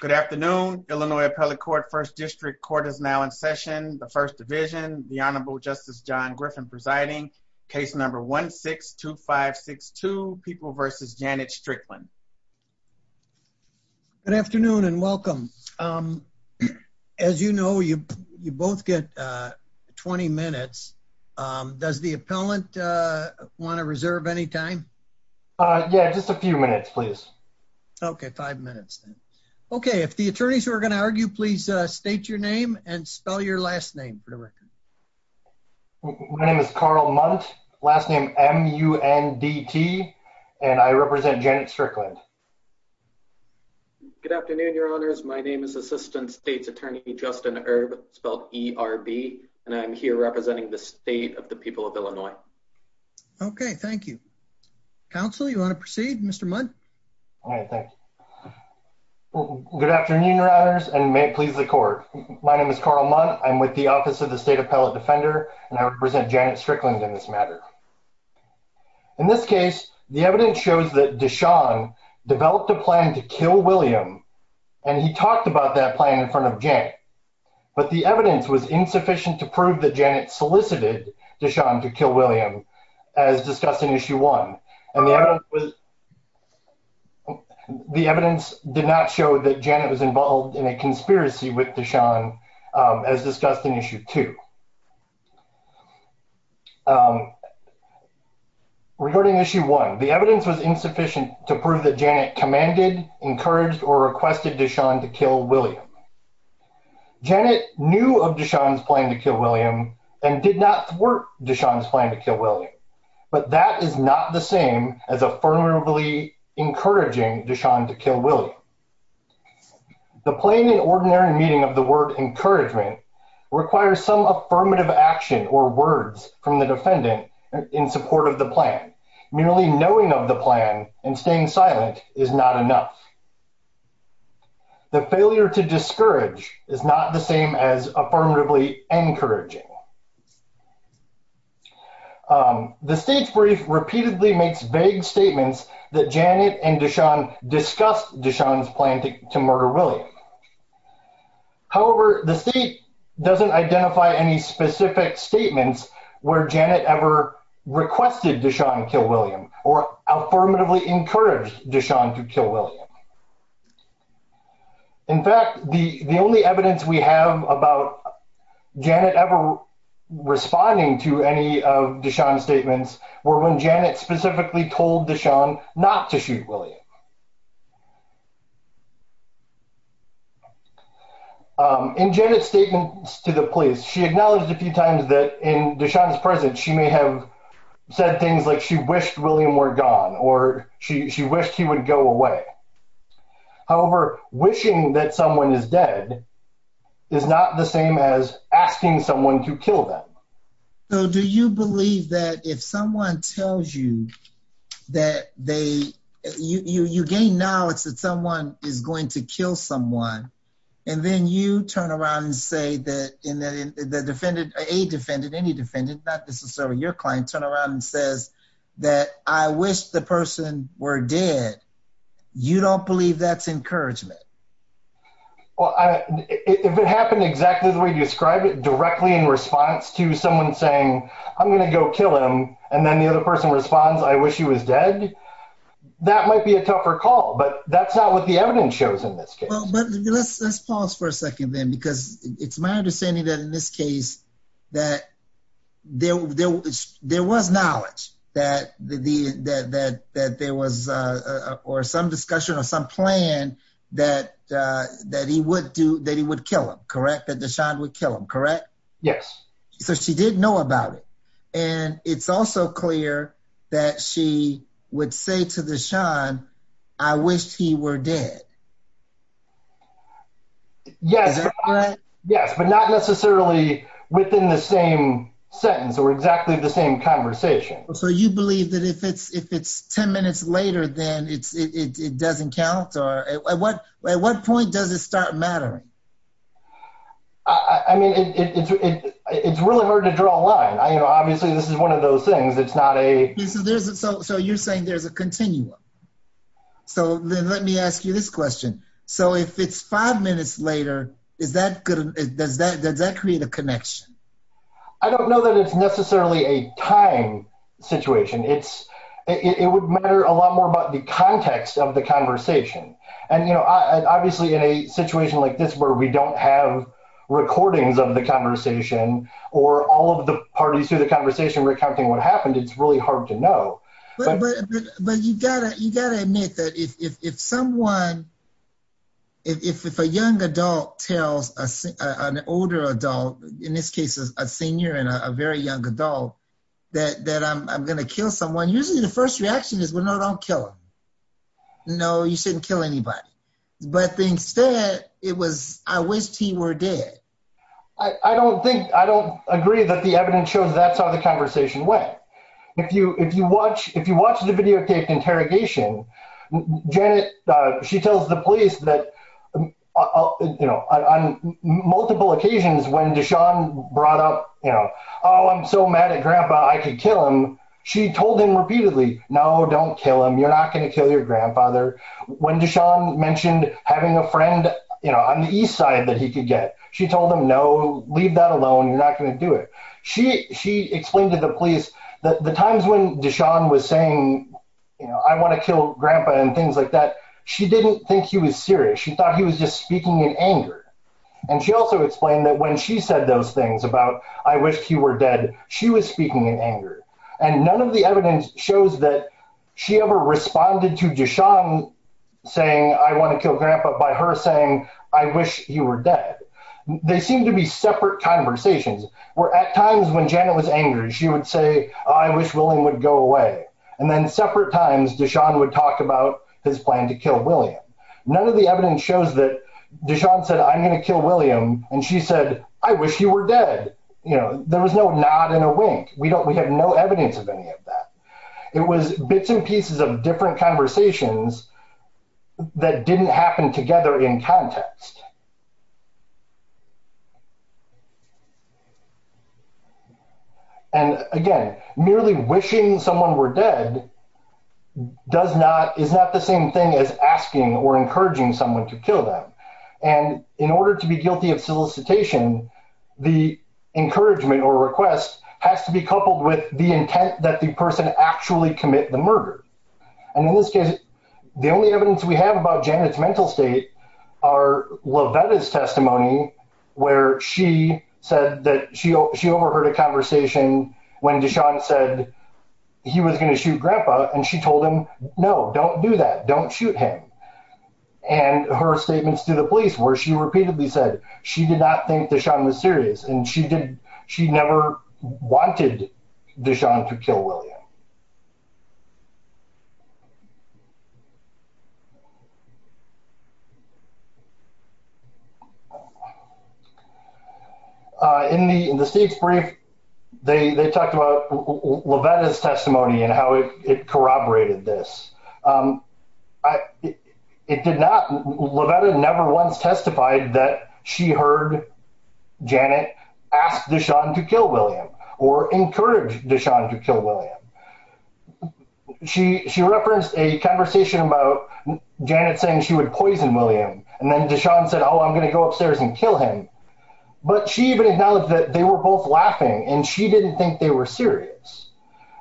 Good afternoon. Illinois Appellate Court First District Court is now in session. The First Division, the Honorable Justice John Griffin presiding. Case number 1-6-2562, People v. Janet Strickland. Good afternoon and welcome. As you know, you both get 20 minutes. Does the appellant want to reserve any time? Yeah, just a few minutes, please. Okay, five minutes. Okay, if the attorneys are going to argue, please state your name and spell your last name for the record. My name is Carl Mundt, last name M-U-N-D-T, and I represent Janet Strickland. Good afternoon, Your Honors. My name is Assistant State's Attorney Justin Erb, spelled E-R-B, and I'm here representing the state of the people of Illinois. Okay, thank you. Counsel, you want to proceed? Mr. Mundt? All right, thank you. Good afternoon, Your Honors, and may it please the court. My name is Carl Mundt. I'm with the Office of the State Appellate Defender, and I represent Janet Strickland in this matter. In this case, the evidence shows that Deshawn developed a plan to kill William, and he talked about that plan in front of Janet, but the evidence was insufficient to prove that Janet solicited Deshawn to kill William as discussed in Issue 1, and the evidence was the evidence did not show that Janet was involved in a conspiracy with Deshawn as discussed in Issue 2. Regarding Issue 1, the evidence was insufficient to prove that Janet commanded, encouraged, or requested Deshawn to kill William. Janet knew of Deshawn's plan to kill William and did not thwart Deshawn's plan to kill William, but that is not the same as affirmatively encouraging Deshawn to kill William. The plain and ordinary meaning of the word encouragement requires some affirmative action or words from the defendant in support of the plan. Merely knowing of the plan and staying silent is not enough. The failure to discourage is not the same as affirmatively encouraging. The state's brief repeatedly makes vague statements that Janet and Deshawn discussed Deshawn's plan to murder William. However, the state doesn't identify any specific statements where Janet ever requested Deshawn to kill William or affirmatively encouraged Deshawn to kill William. In fact, the only evidence we have about Janet ever responding to any of Deshawn's statements were when Janet specifically told Deshawn not to shoot William. In Janet's statements to the police, she acknowledged a few times that in Deshawn's presence she may have said things like she wished William were gone or she wished he would go away. However, wishing that someone is dead is not the same as asking someone to kill them. So do you believe that if someone tells you that they, you gain knowledge that someone is going to kill someone and then you turn around and say that in the defendant, a defendant, any defendant, not necessarily your client, turn around and says that I wish the person were dead, you don't believe that's encouragement? Well, if it happened exactly the way you describe it, directly in response to someone saying I'm going to go kill him, and then the other person responds, I wish he was dead, that might be a tougher call, but that's not what the evidence shows in this case. Well, but let's pause for a second then, because it's my understanding that in this case, that there was knowledge that there was some discussion or some plan that he would kill him, correct? That Deshawn would kill him, correct? Yes. So she did know about it, and it's also clear that she would say to Deshawn, I wished he were dead. Yes, but not necessarily within the same sentence or exactly the same conversation. So you believe that if it's 10 minutes later, then it doesn't count? At what point does it start mattering? I mean, it's really hard to draw a line. Obviously, this is one of those things, it's not a... So you're saying there's a continuum. So then let me ask you this question. So if it's five minutes later, does that create a connection? I don't know that it's necessarily a time situation. It would matter a lot more about the context of the conversation. And obviously, in a situation like this, where we don't have recordings of the conversation, or all of the parties through the conversation recounting what happened, it's really hard to know. But you gotta admit that if someone, if a young adult tells an older adult, in this case, a senior and a very young adult, that I'm gonna kill someone, usually the first reaction is, well, no, don't kill him. No, you shouldn't kill anybody. But instead, it was, I wished he were dead. I don't think, I don't agree that the if you watch the videotaped interrogation, Janet, she tells the police that on multiple occasions, when Deshaun brought up, oh, I'm so mad at grandpa, I could kill him. She told him repeatedly, no, don't kill him. You're not gonna kill your grandfather. When Deshaun mentioned having a friend on the east side that he could get, she told him, no, leave that alone. You're not gonna do it. She explained to the police that the times when Deshaun was saying, I wanna kill grandpa and things like that, she didn't think he was serious. She thought he was just speaking in anger. And she also explained that when she said those things about, I wish he were dead, she was speaking in anger. And none of the evidence shows that she ever responded to Deshaun saying, I wanna kill grandpa by her saying, I wish he were dead. They seem to be separate conversations where at times when Janet was angry, she would say, I wish William would go away. And then separate times Deshaun would talk about his plan to kill William. None of the evidence shows that Deshaun said, I'm gonna kill William. And she said, I wish you were dead. There was no nod and a wink. We have no evidence of any of that. It was bits and pieces of different conversations that didn't happen together in context. And again, merely wishing someone were dead does not, is not the same thing as asking or encouraging someone to kill them. And in order to be guilty of solicitation, the encouragement or request has to be coupled with the intent that the person actually commit the murder. And in this case, the only evidence we have about Janet's mental state are Lovetta's testimony, where she said that she, she overheard a conversation when Deshaun said he was gonna shoot grandpa. And she told him, no, don't do that. Don't shoot him. And her statements to the police where she repeatedly said she did not think Deshaun was serious. And she did. She never wanted Deshaun to kill William. In the state's brief, they talked about Lovetta's testimony and how it corroborated this. It did not. Lovetta never once testified that she heard Janet ask Deshaun to kill William or encourage Deshaun to kill William. She, she referenced a conversation about Janet saying she would poison William. And then Deshaun said, oh, I'm going to go upstairs and kill him. But she even acknowledged that they were both laughing and she didn't think they were serious.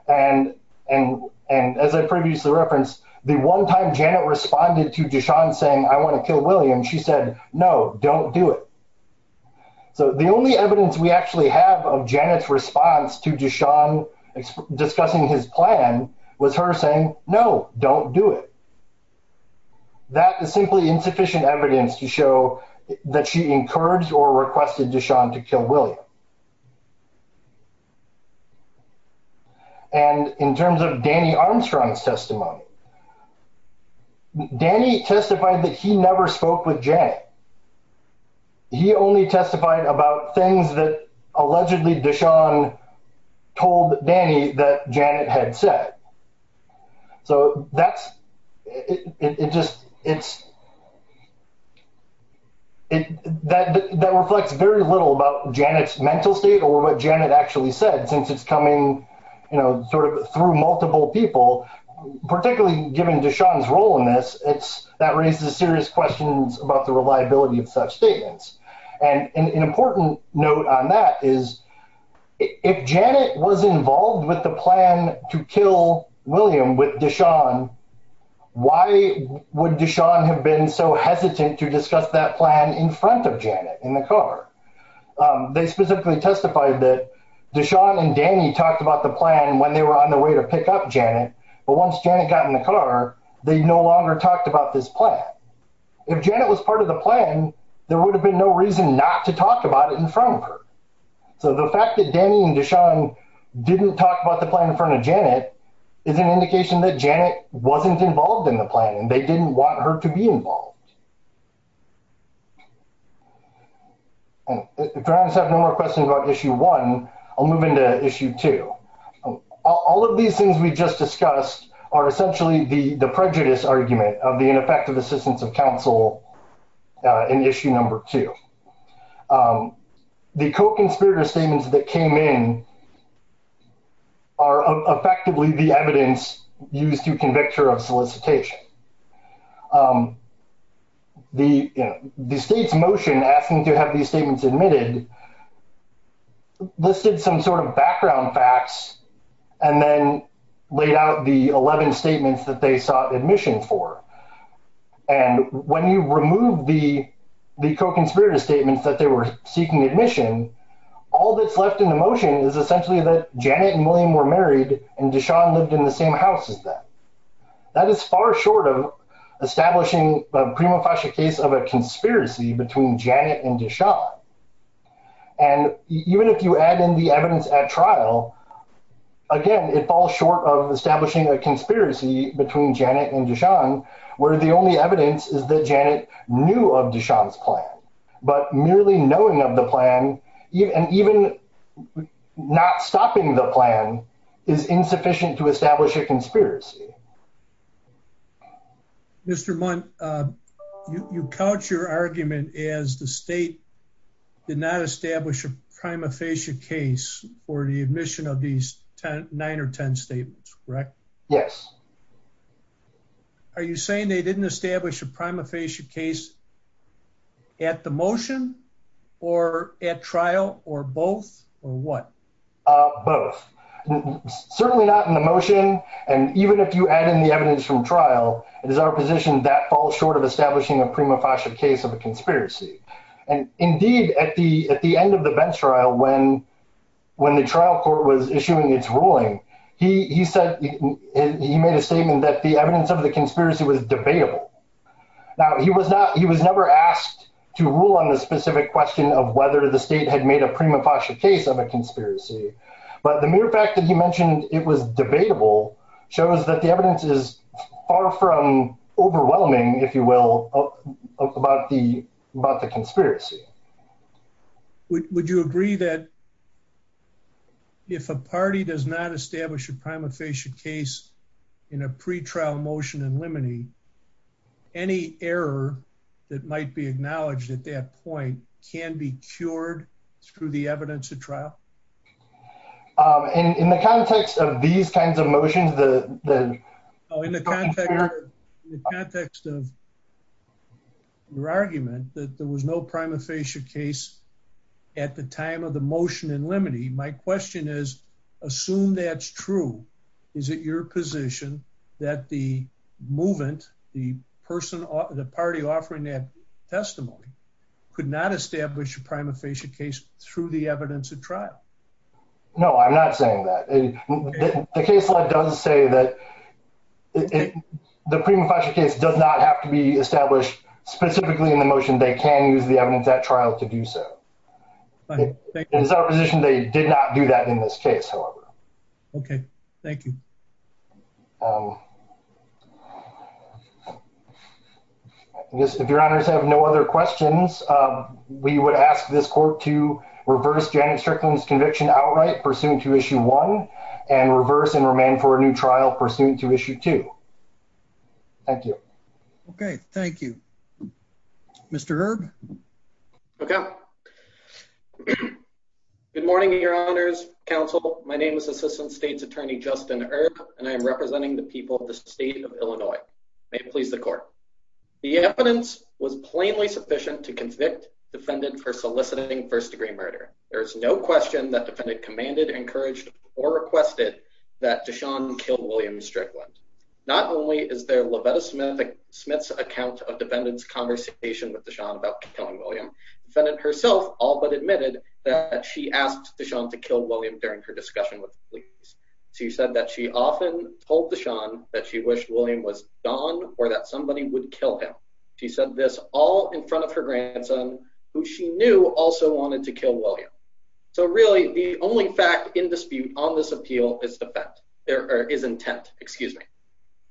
And, and, and as I previously referenced, the one time Janet responded to Deshaun saying, I want to kill William, she said, no, don't do it. So the only evidence we actually have of Janet's response to Deshaun discussing his plan was her saying, no, don't do it. That is simply insufficient evidence to show that she encouraged or requested Deshaun to kill William. And in terms of Danny Armstrong's testimony, Danny testified that he never spoke with Janet. He only testified about things that allegedly Deshaun told Danny that Janet had said. So that's, it just, it's, that reflects very little about Janet's mental state or what Janet actually said since it's coming, you know, sort of through multiple people, particularly given Deshaun's role in this, it's, that raises serious questions about the reliability of such statements. And an important note on that is, if Janet was involved with the plan to kill William with Deshaun, why would Deshaun have been so hesitant to discuss that plan in front of Janet in the car? They specifically testified that Deshaun and Danny talked about the plan when they were on the way to pick up Janet, but once Janet got in the car, they no longer talked about this plan. If Janet was part of the plan, there would have been no reason not to talk about it in front of her. So the fact that Danny and Deshaun didn't talk about the plan in front of Janet is an indication that they weren't involved in the plan and they didn't want her to be involved. And if you guys have no more questions about issue one, I'll move into issue two. All of these things we just discussed are essentially the prejudice argument of the ineffective assistance of counsel in issue number two. The co-conspirator statements that came in are effectively the evidence used to convict her of solicitation. The state's motion asking to have these statements admitted listed some sort of background facts and then laid out the 11 statements that they sought admission for. And when you remove the co-conspirator statements that they were Janet and William were married and Deshaun lived in the same house as them, that is far short of establishing a prima facie case of a conspiracy between Janet and Deshaun. And even if you add in the evidence at trial, again, it falls short of establishing a conspiracy between Janet and Deshaun where the only evidence is that Janet knew of Deshaun's plan, but merely knowing of the plan and even not stopping the plan is insufficient to establish a conspiracy. Mr. Mundt, you count your argument as the state did not establish a prima facie case for the admission of these nine or 10 statements, correct? Yes. Are you saying they didn't establish a prima facie case at the motion or at trial or both or what? Both. Certainly not in the motion. And even if you add in the evidence from trial, it is our position that falls short of establishing a prima facie case of a conspiracy. And indeed, at the end of the bench trial, when the trial court was issuing its ruling, he said he made a statement that the evidence of the conspiracy was debatable. Now, he was never asked to rule on the specific question of whether the state had made a prima facie case of a conspiracy, but the mere fact that he mentioned it was debatable shows that the evidence is far from overwhelming, if you will, about the conspiracy. Would you agree that if a party does not establish a prima facie case in a pre-trial motion in limine, any error that might be acknowledged at that point can be cured through the evidence of trial? In the context of these kinds of motions, the... In the context of your argument that there was no prima facie case at the time of the motion in limine, my question is, assume that's true, is it your position that the movement, the party offering that testimony could not establish a prima facie case through the evidence of trial? No, I'm not saying that. The case law does say that the prima facie case does not have to be established specifically in the motion. They can use the evidence at trial to do so. In his opposition, they did not do that in this case, however. Okay, thank you. I guess if your honors have no other questions, we would ask this court to reverse Janet Strickland's conviction outright pursuant to issue one and reverse and remain for a new trial pursuant to the motion. Mr. Erb? Okay. Good morning, your honors, counsel. My name is Assistant State's Attorney Justin Erb, and I am representing the people of the state of Illinois. May it please the court. The evidence was plainly sufficient to convict defendant for soliciting first-degree murder. There is no question that defendant commanded, encouraged, or requested that DeShawn kill William Strickland. Not only is there Lovetta Smith's account of defendant's conversation with DeShawn about killing William, defendant herself all but admitted that she asked DeShawn to kill William during her discussion with the police. She said that she often told DeShawn that she wished William was gone or that somebody would kill him. She said this all in front of her grandson, who she knew also wanted to kill William. So really, the only fact in dispute on this appeal is intent.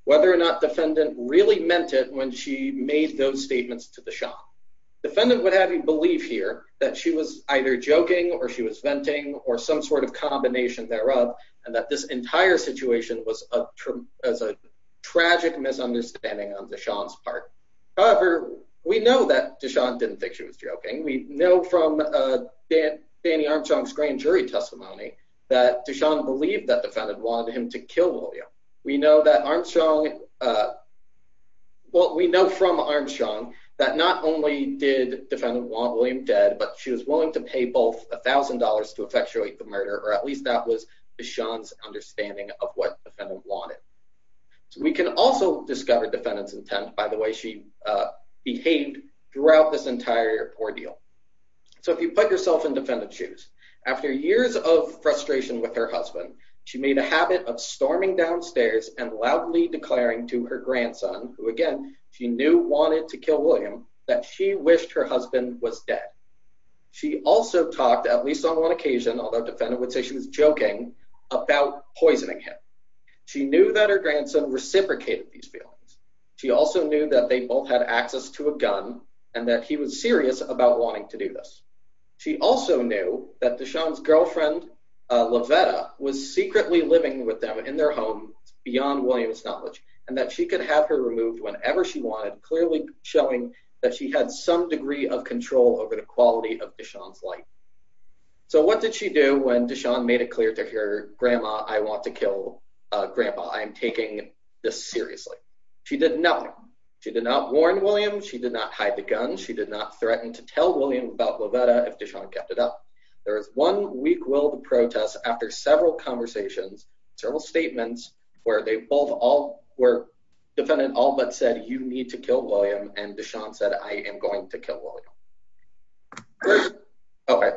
Whether or not defendant really meant it when she made those statements to DeShawn. Defendant would have you believe here that she was either joking or she was venting or some sort of combination thereof, and that this entire situation was a tragic misunderstanding on DeShawn's part. However, we know that DeShawn didn't think she was joking. We know from Danny Armstrong's grand jury testimony that DeShawn believed that defendant wanted him to William dead, but she was willing to pay both a thousand dollars to effectuate the murder, or at least that was DeShawn's understanding of what defendant wanted. So we can also discover defendant's intent by the way she behaved throughout this entire ordeal. So if you put yourself in defendant's shoes, after years of frustration with her husband, she made a habit of storming downstairs and loudly declaring to her grandson, who again, she knew wanted to kill William, that she wished her husband was dead. She also talked, at least on one occasion, although defendant would say she was joking, about poisoning him. She knew that her grandson reciprocated these feelings. She also knew that they both had access to a gun and that he was serious about wanting to do this. She also knew that DeShawn's girlfriend, Lovetta, was secretly living with them in their home beyond William's knowledge, and that she could have her removed whenever she wanted, clearly showing that she had some degree of control over the quality of DeShawn's life. So what did she do when DeShawn made it clear to her grandma, I want to kill grandpa, I am taking this seriously? She did nothing. She did not warn William. She did not hide the gun. She did not threaten to tell William about Lovetta if DeShawn kept it up. There was one weak-willed protest after several conversations, several statements, where they both all, where defendant all but said, you need to kill William, and DeShawn said, I am going to kill William. Okay,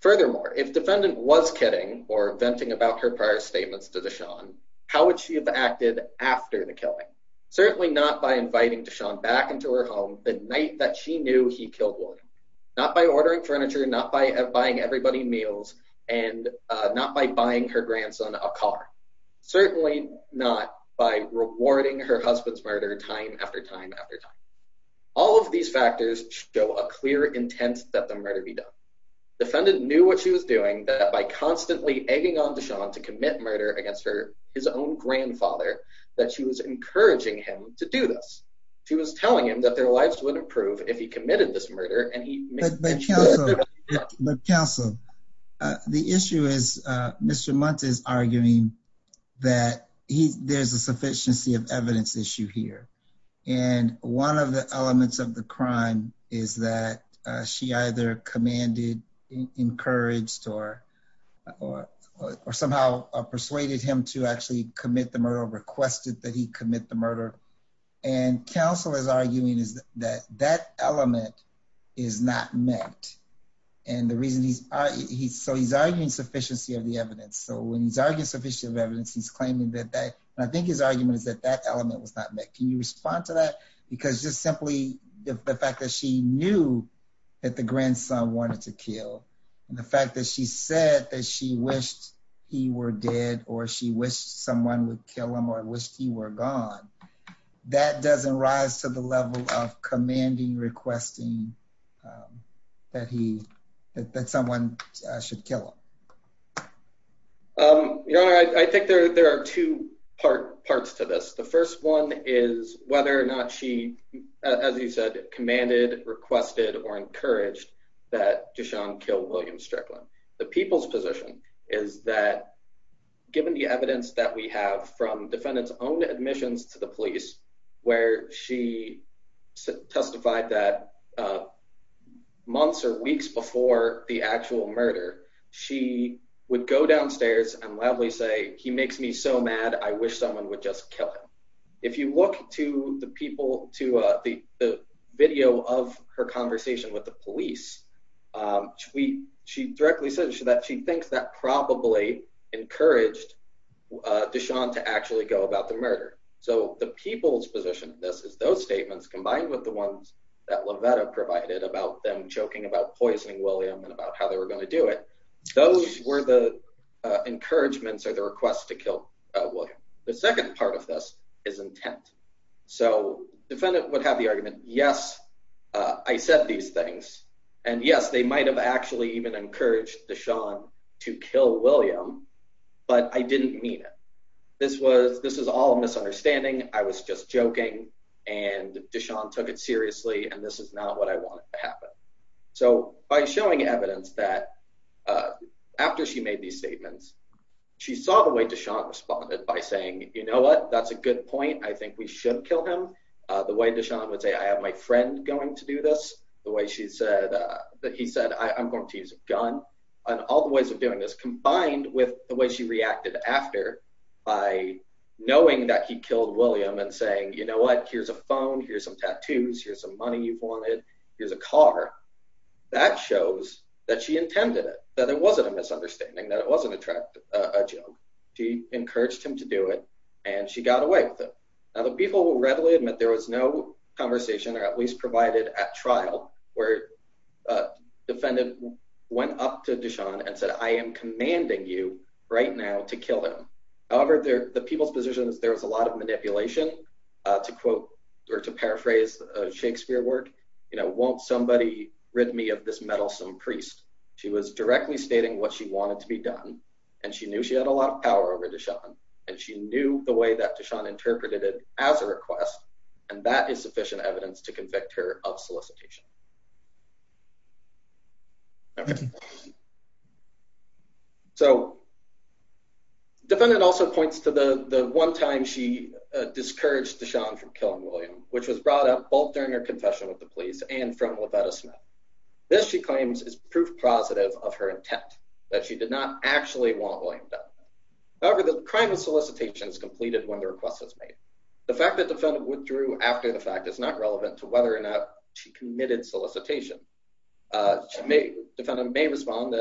furthermore, if defendant was kidding or venting about her prior statements to DeShawn, how would she have acted after the killing? Certainly not by inviting DeShawn back into her home the night that she knew he killed William. Not by ordering furniture, not by buying everybody meals, and not by buying her grandson a car. Certainly not by rewarding her husband's murder time after time after time. All of these factors show a clear intent that the murder be done. Defendant knew what she was doing, that by constantly egging on DeShawn to commit murder against her, his own grandfather, that she was encouraging him to do this. She was telling him that their lives would improve if he committed this murder. But counsel, the issue is, Mr. Muntz is arguing that there's a sufficiency of evidence issue here, and one of the elements of the crime is that she either commanded, encouraged, or somehow persuaded him to commit the murder, or requested that he commit the murder. And counsel is arguing that that element is not met. So he's arguing sufficiency of the evidence. So when he's arguing sufficiency of evidence, he's claiming that that, and I think his argument is that that element was not met. Can you respond to that? Because just simply the fact that she knew that the grandson wanted to someone would kill him or wished he were gone, that doesn't rise to the level of commanding, requesting that someone should kill him. Your Honor, I think there are two parts to this. The first one is whether or not she, as you said, commanded, requested, or encouraged that DeShawn kill William Strickland. The people's evidence that we have from defendant's own admissions to the police, where she testified that months or weeks before the actual murder, she would go downstairs and loudly say, he makes me so mad, I wish someone would just kill him. If you look to the people, to the video of her conversation with the police, she directly says that she thinks that probably encouraged DeShawn to actually go about the murder. So the people's position of this is those statements, combined with the ones that Lovetta provided about them joking about poisoning William and about how they were going to do it, those were the encouragements or the requests to kill William. The second part of this is intent. So defendant would have the argument, yes, I said these things, and yes, they might have actually even encouraged DeShawn to kill William, but I didn't mean it. This was, this is all a misunderstanding, I was just joking, and DeShawn took it seriously, and this is not what I wanted to happen. So by showing evidence that after she made these statements, she saw the way DeShawn responded by saying, you know what, that's a good point, I think we should kill him. The way DeShawn would say, I have my friend going to do this, the way she said, that he said, I'm going to use a gun, and all the ways of doing this, combined with the way she reacted after by knowing that he killed William and saying, you know what, here's a phone, here's some tattoos, here's some money you've wanted, here's a car, that shows that she intended it, that it wasn't a misunderstanding, that it wasn't a joke. She encouraged him to do it, and she got away with it. Now the people will readily admit there was no conversation, or at least provided at trial, where a defendant went up to DeShawn and said, I am commanding you right now to kill him. However, the people's position is there was a lot of manipulation, to quote, or to paraphrase Shakespeare work, you know, won't somebody rid me of this meddlesome priest. She was directly stating what she wanted to be done, and she knew she had a lot of power over DeShawn, and she knew the way that DeShawn interpreted it as a request, and that is sufficient evidence to convict her of solicitation. So defendant also points to the one time she discouraged DeShawn from killing William, which was brought up both during her confession with the police and from LaVetta Smith. This, she claims, is proof positive of her intent, that she did not actually want William However, the crime of solicitation is completed when the request is made. The fact that defendant withdrew after the fact is not relevant to whether or not she committed solicitation. Defendant may respond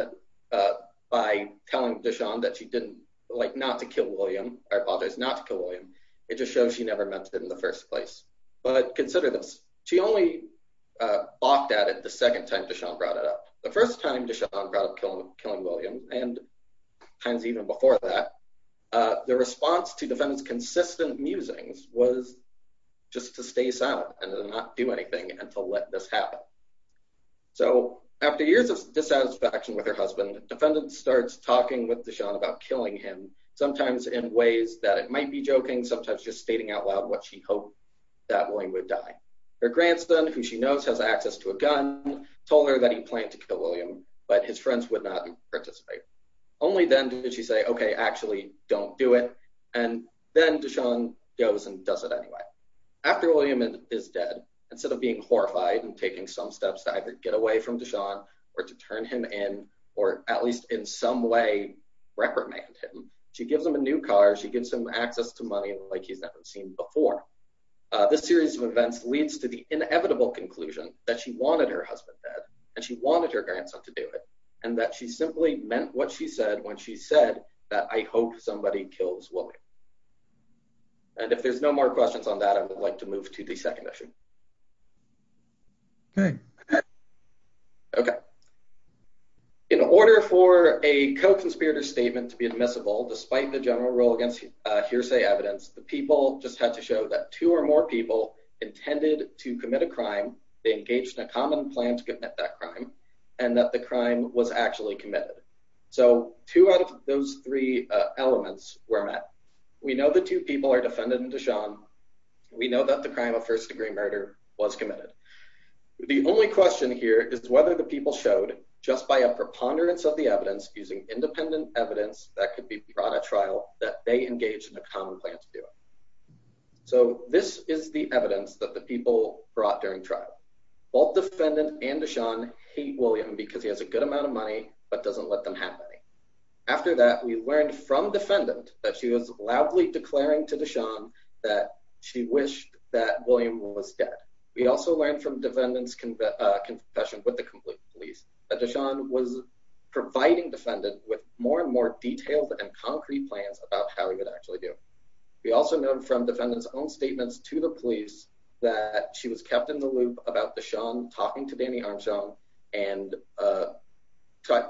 by telling DeShawn that she didn't, like, not to kill William, or apologize, not to kill William. It just shows she never meant it in the first place. But consider this, she only balked at it the second time DeShawn brought it and times even before that. The response to defendant's consistent musings was just to stay silent and not do anything and to let this happen. So after years of dissatisfaction with her husband, defendant starts talking with DeShawn about killing him, sometimes in ways that it might be joking, sometimes just stating out loud what she hoped that William would die. Her grandson, who she knows has access to a gun, told her that he planned to kill William, but his friends would not participate. Only then did she say, okay, actually don't do it, and then DeShawn goes and does it anyway. After William is dead, instead of being horrified and taking some steps to either get away from DeShawn, or to turn him in, or at least in some way reprimand him, she gives him a new car, she gives him access to money like he's never seen before. This series of events leads to the inevitable conclusion that she wanted her husband dead, and she wanted her grandson to do it, and that she simply meant what she said when she said that I hope somebody kills William. And if there's no more questions on that, I would like to move to the second issue. Okay. Okay. In order for a co-conspirator statement to be admissible, despite the general rule against hearsay evidence, the people just had to show that two or more people intended to commit a crime, they engaged in a common plan to commit that crime, and that the crime was actually committed. So two out of those three elements were met. We know the two people are defended in DeShawn. We know that the crime of first degree murder was committed. The only question here is whether the people showed, just by a preponderance of the evidence, using independent evidence that could be brought at trial, that they engaged in a common plan to do it. So this is the evidence that the people brought during trial. Both defendant and DeShawn hate William because he has a good amount of money but doesn't let them have any. After that, we learned from defendant that she was loudly declaring to DeShawn that she wished that William was dead. We also learned from defendant's confession with the complete police that DeShawn was providing defendant with more and more detailed and concrete plans about how he would actually do it. We also know from defendant's own statements to the police that she was kept in the loop about DeShawn talking to Danny Armstrong and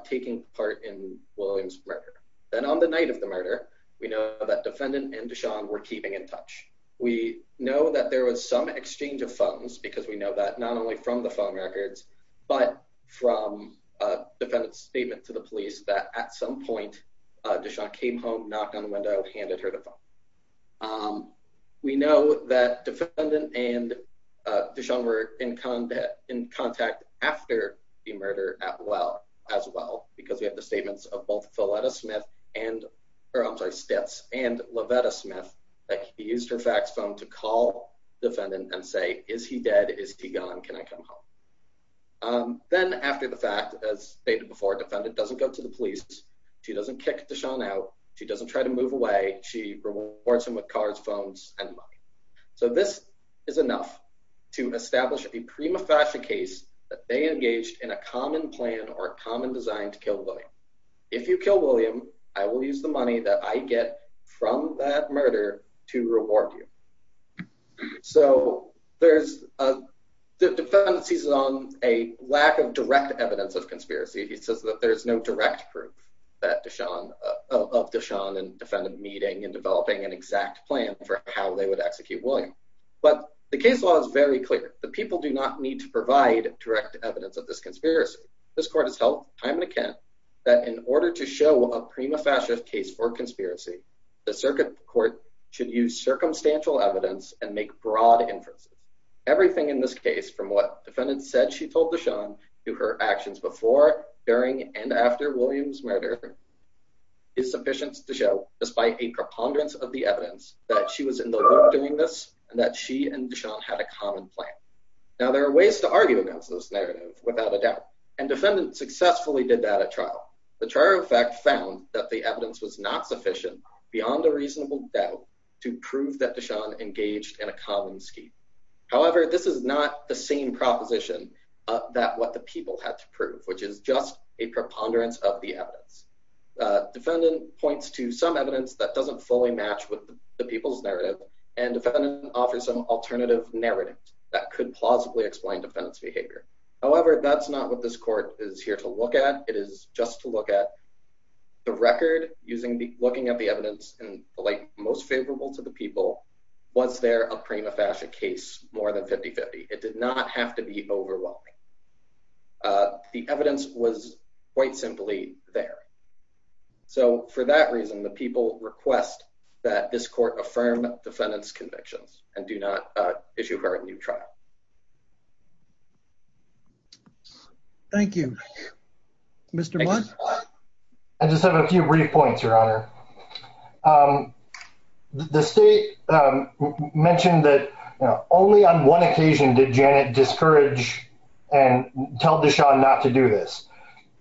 taking part in William's murder. Then on the night of the murder, we know that defendant and DeShawn were keeping in touch. We know that there was some exchange of phones because we know that not only from the phone records but from defendant's statement to the police that at some point, DeShawn came home, knocked on the window, handed her the phone. We know that defendant and DeShawn were in contact after the murder as well because we have the statements of both Philetta Smith and, or I'm sorry, Stitz and Lovetta Smith that he used her fax phone to call defendant and say, is he dead? Is he gone? Can I come home? Then after the fact, as stated before, defendant doesn't go to the police. She doesn't kick DeShawn out. She doesn't try to move away. She rewards him with cars, phones, and money. So this is enough to establish a prima facie case that they engaged in a common plan or a common design to kill William. If you kill William, I will use the money that I get from that murder to reward you. So there's a, the defendant sees on a lack of direct evidence of conspiracy. He says that there's no direct proof that DeShawn, of DeShawn and defendant meeting and developing an exact plan for how they would execute William. But the case law is very clear. The people do not need to provide direct evidence of this conspiracy. This court has held time and again that in order to show a prima facie case for conspiracy, the circuit court should use circumstantial evidence and make broad inferences. Everything in this case from what said she told DeShawn to her actions before, during, and after William's murder is sufficient to show, despite a preponderance of the evidence, that she was in the loop doing this and that she and DeShawn had a common plan. Now there are ways to argue against this narrative without a doubt, and defendant successfully did that at trial. The trial in fact found that the evidence was not sufficient beyond a reasonable doubt to prove that DeShawn engaged in a common scheme. However, this is not the same proposition that what the people had to prove, which is just a preponderance of the evidence. Defendant points to some evidence that doesn't fully match with the people's narrative and defendant offers some alternative narrative that could plausibly explain defendant's behavior. However, that's not what this court is here to look at. It is just to look at the record using the looking at the evidence and like most favorable to the people, was there a prima facie case more than 50-50. It did not have to be overwhelming. The evidence was quite simply there. So for that reason, the people request that this court affirm defendant's convictions and do not issue her a new trial. Thank you. Mr. Blunt. I just have a few brief points, your honor. The state mentioned that only on one occasion did Janet discourage and tell DeShawn not to do this.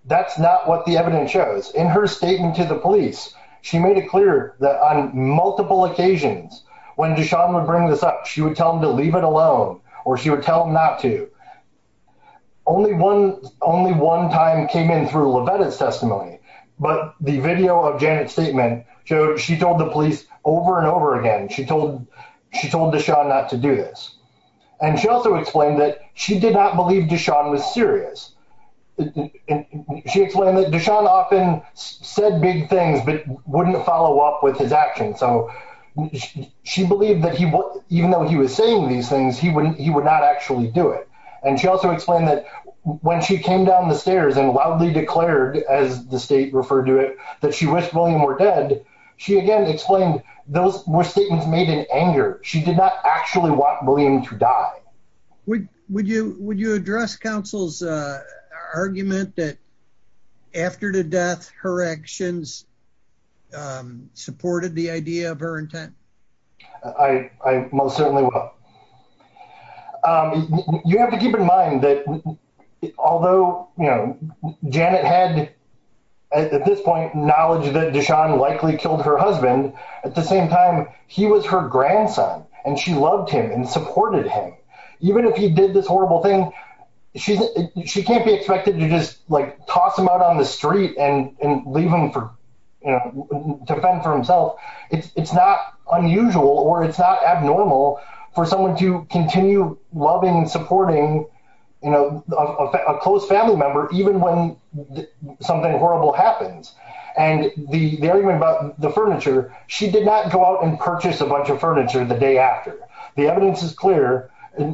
That's not what the evidence shows. In her statement to the police, she made it clear that on multiple occasions when DeShawn would bring this up, she would tell him to leave it alone or she would tell him not to. Only one time came in through Levetta's testimony, but the video of Janet's statement, she told the police over and over again, she told DeShawn not to do this. And she also explained that she did not believe DeShawn was serious. She explained that DeShawn often said big things but wouldn't follow up with his actions. So she believed that even though he was saying these things, he would not actually do it. And she also explained that when she came down the stairs and loudly declared, as the state referred to it, that she wished William were dead, she again explained those were statements made in anger. She did not actually want William to die. Would you address counsel's argument that after the death, her actions supported the idea of her intent? I most certainly will. You have to keep in mind that although Janet had, at this point, knowledge that DeShawn likely killed her husband, at the same time, he was her grandson, and she loved him and supported him. Even if he did this horrible thing, she can't be expected to just like toss him out on the street and leave him to fend for himself. It's not unusual or it's not abnormal for Janet to continue loving and supporting a close family member even when something horrible happens. And the argument about the furniture, she did not go out and purchase a bunch of furniture the day after. The evidence is clear.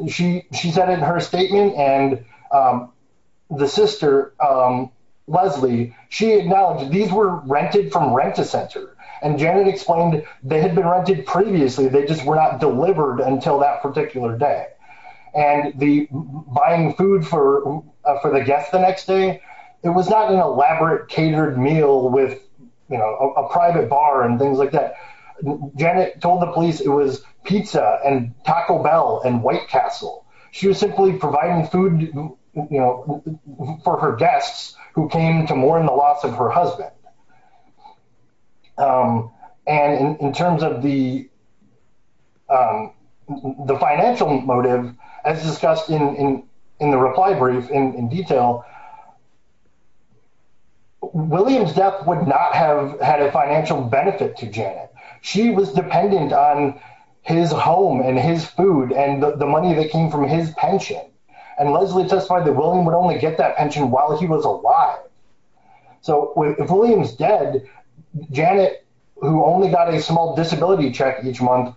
She said in her statement and the sister, Leslie, she acknowledged these were rented from rent-a-center. And Janet explained they had been rented previously. They just were not delivered until that particular day. And the buying food for the guests the next day, it was not an elaborate catered meal with a private bar and things like that. Janet told the police it was pizza and Taco Bell and White Castle. She was simply providing food for her guests who came to mourn the loss of her husband. And in terms of the financial motive, as discussed in the reply brief in detail, William's death would not have had a financial benefit to Janet. She was dependent on his home and his food and the money that came from his pension. And Leslie testified that William would get that pension while he was alive. So if William is dead, Janet, who only got a small disability check each month,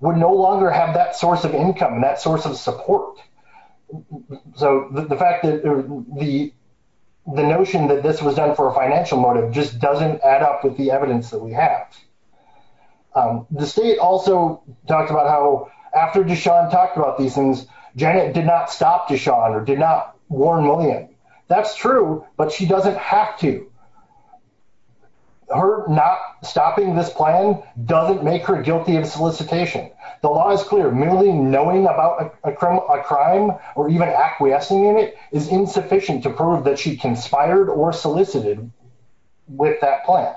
would no longer have that source of income, that source of support. So the fact that the notion that this was done for a financial motive just doesn't add up with the evidence that we have. The state also talked about how after Deshaun talked about these things, Janet did not stop Deshaun or did not warn William. That's true, but she doesn't have to. Her not stopping this plan doesn't make her guilty of solicitation. The law is clear, merely knowing about a crime or even acquiescing in it is insufficient to prove that she conspired or solicited with that plan.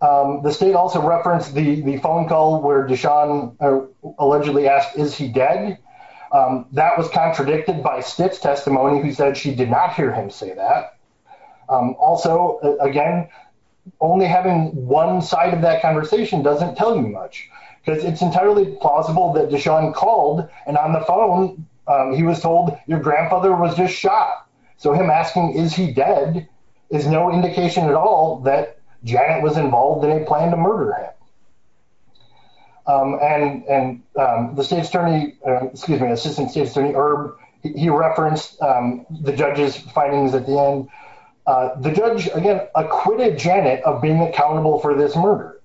The state also referenced the phone call where Deshaun allegedly asked, is he dead? That was contradicted by Stitt's testimony who said she did not hear him say that. Also, again, only having one side of that conversation doesn't tell you much because it's entirely plausible that Deshaun called and on the phone he was told your grandfather was just shot. So him asking, is he dead, is no indication at all that Janet was involved in a plan to murder him. And the state's attorney, excuse me, assistant state attorney Erb, he referenced the judge's findings at the end. The judge, again, acquitted Janet of being accountable for this murder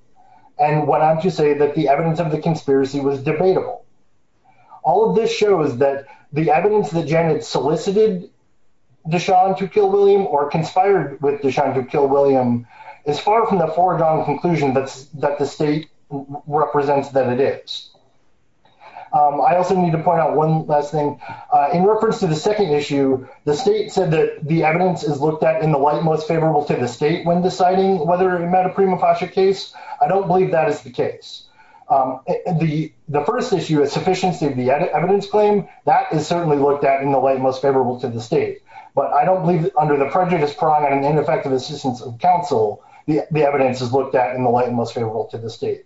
and went on to say that the evidence of the conspiracy was debatable. All of this shows that the evidence that Janet solicited Deshaun to kill William or conspired with Deshaun to kill William is far from the foregone conclusion that the state represents that it is. I also need to point out one last thing. In reference to the second issue, the state said that the evidence is looked at in the light most favorable to the state when deciding whether it met a prima facie case. I don't believe that is the case. The first issue is sufficiency of the evidence claim. That is certainly looked at in the light most favorable to the state. But I don't believe that under the prejudice prong and ineffective assistance of counsel, the evidence is looked at in the light most favorable to the state.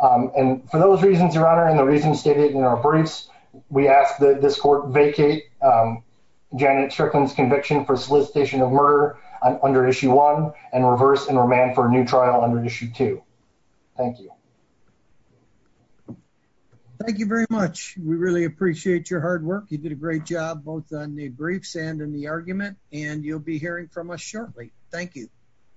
And for those reasons, your honor, and the reasons stated in our briefs, we ask that this court vacate Janet Strickland's conviction for solicitation of murder under issue one and reverse and remand for a new trial under issue two. Thank you. Thank you very much. We really appreciate your hard work. You did a great job both on the briefs and in the argument, and you'll be hearing from us shortly. Thank you.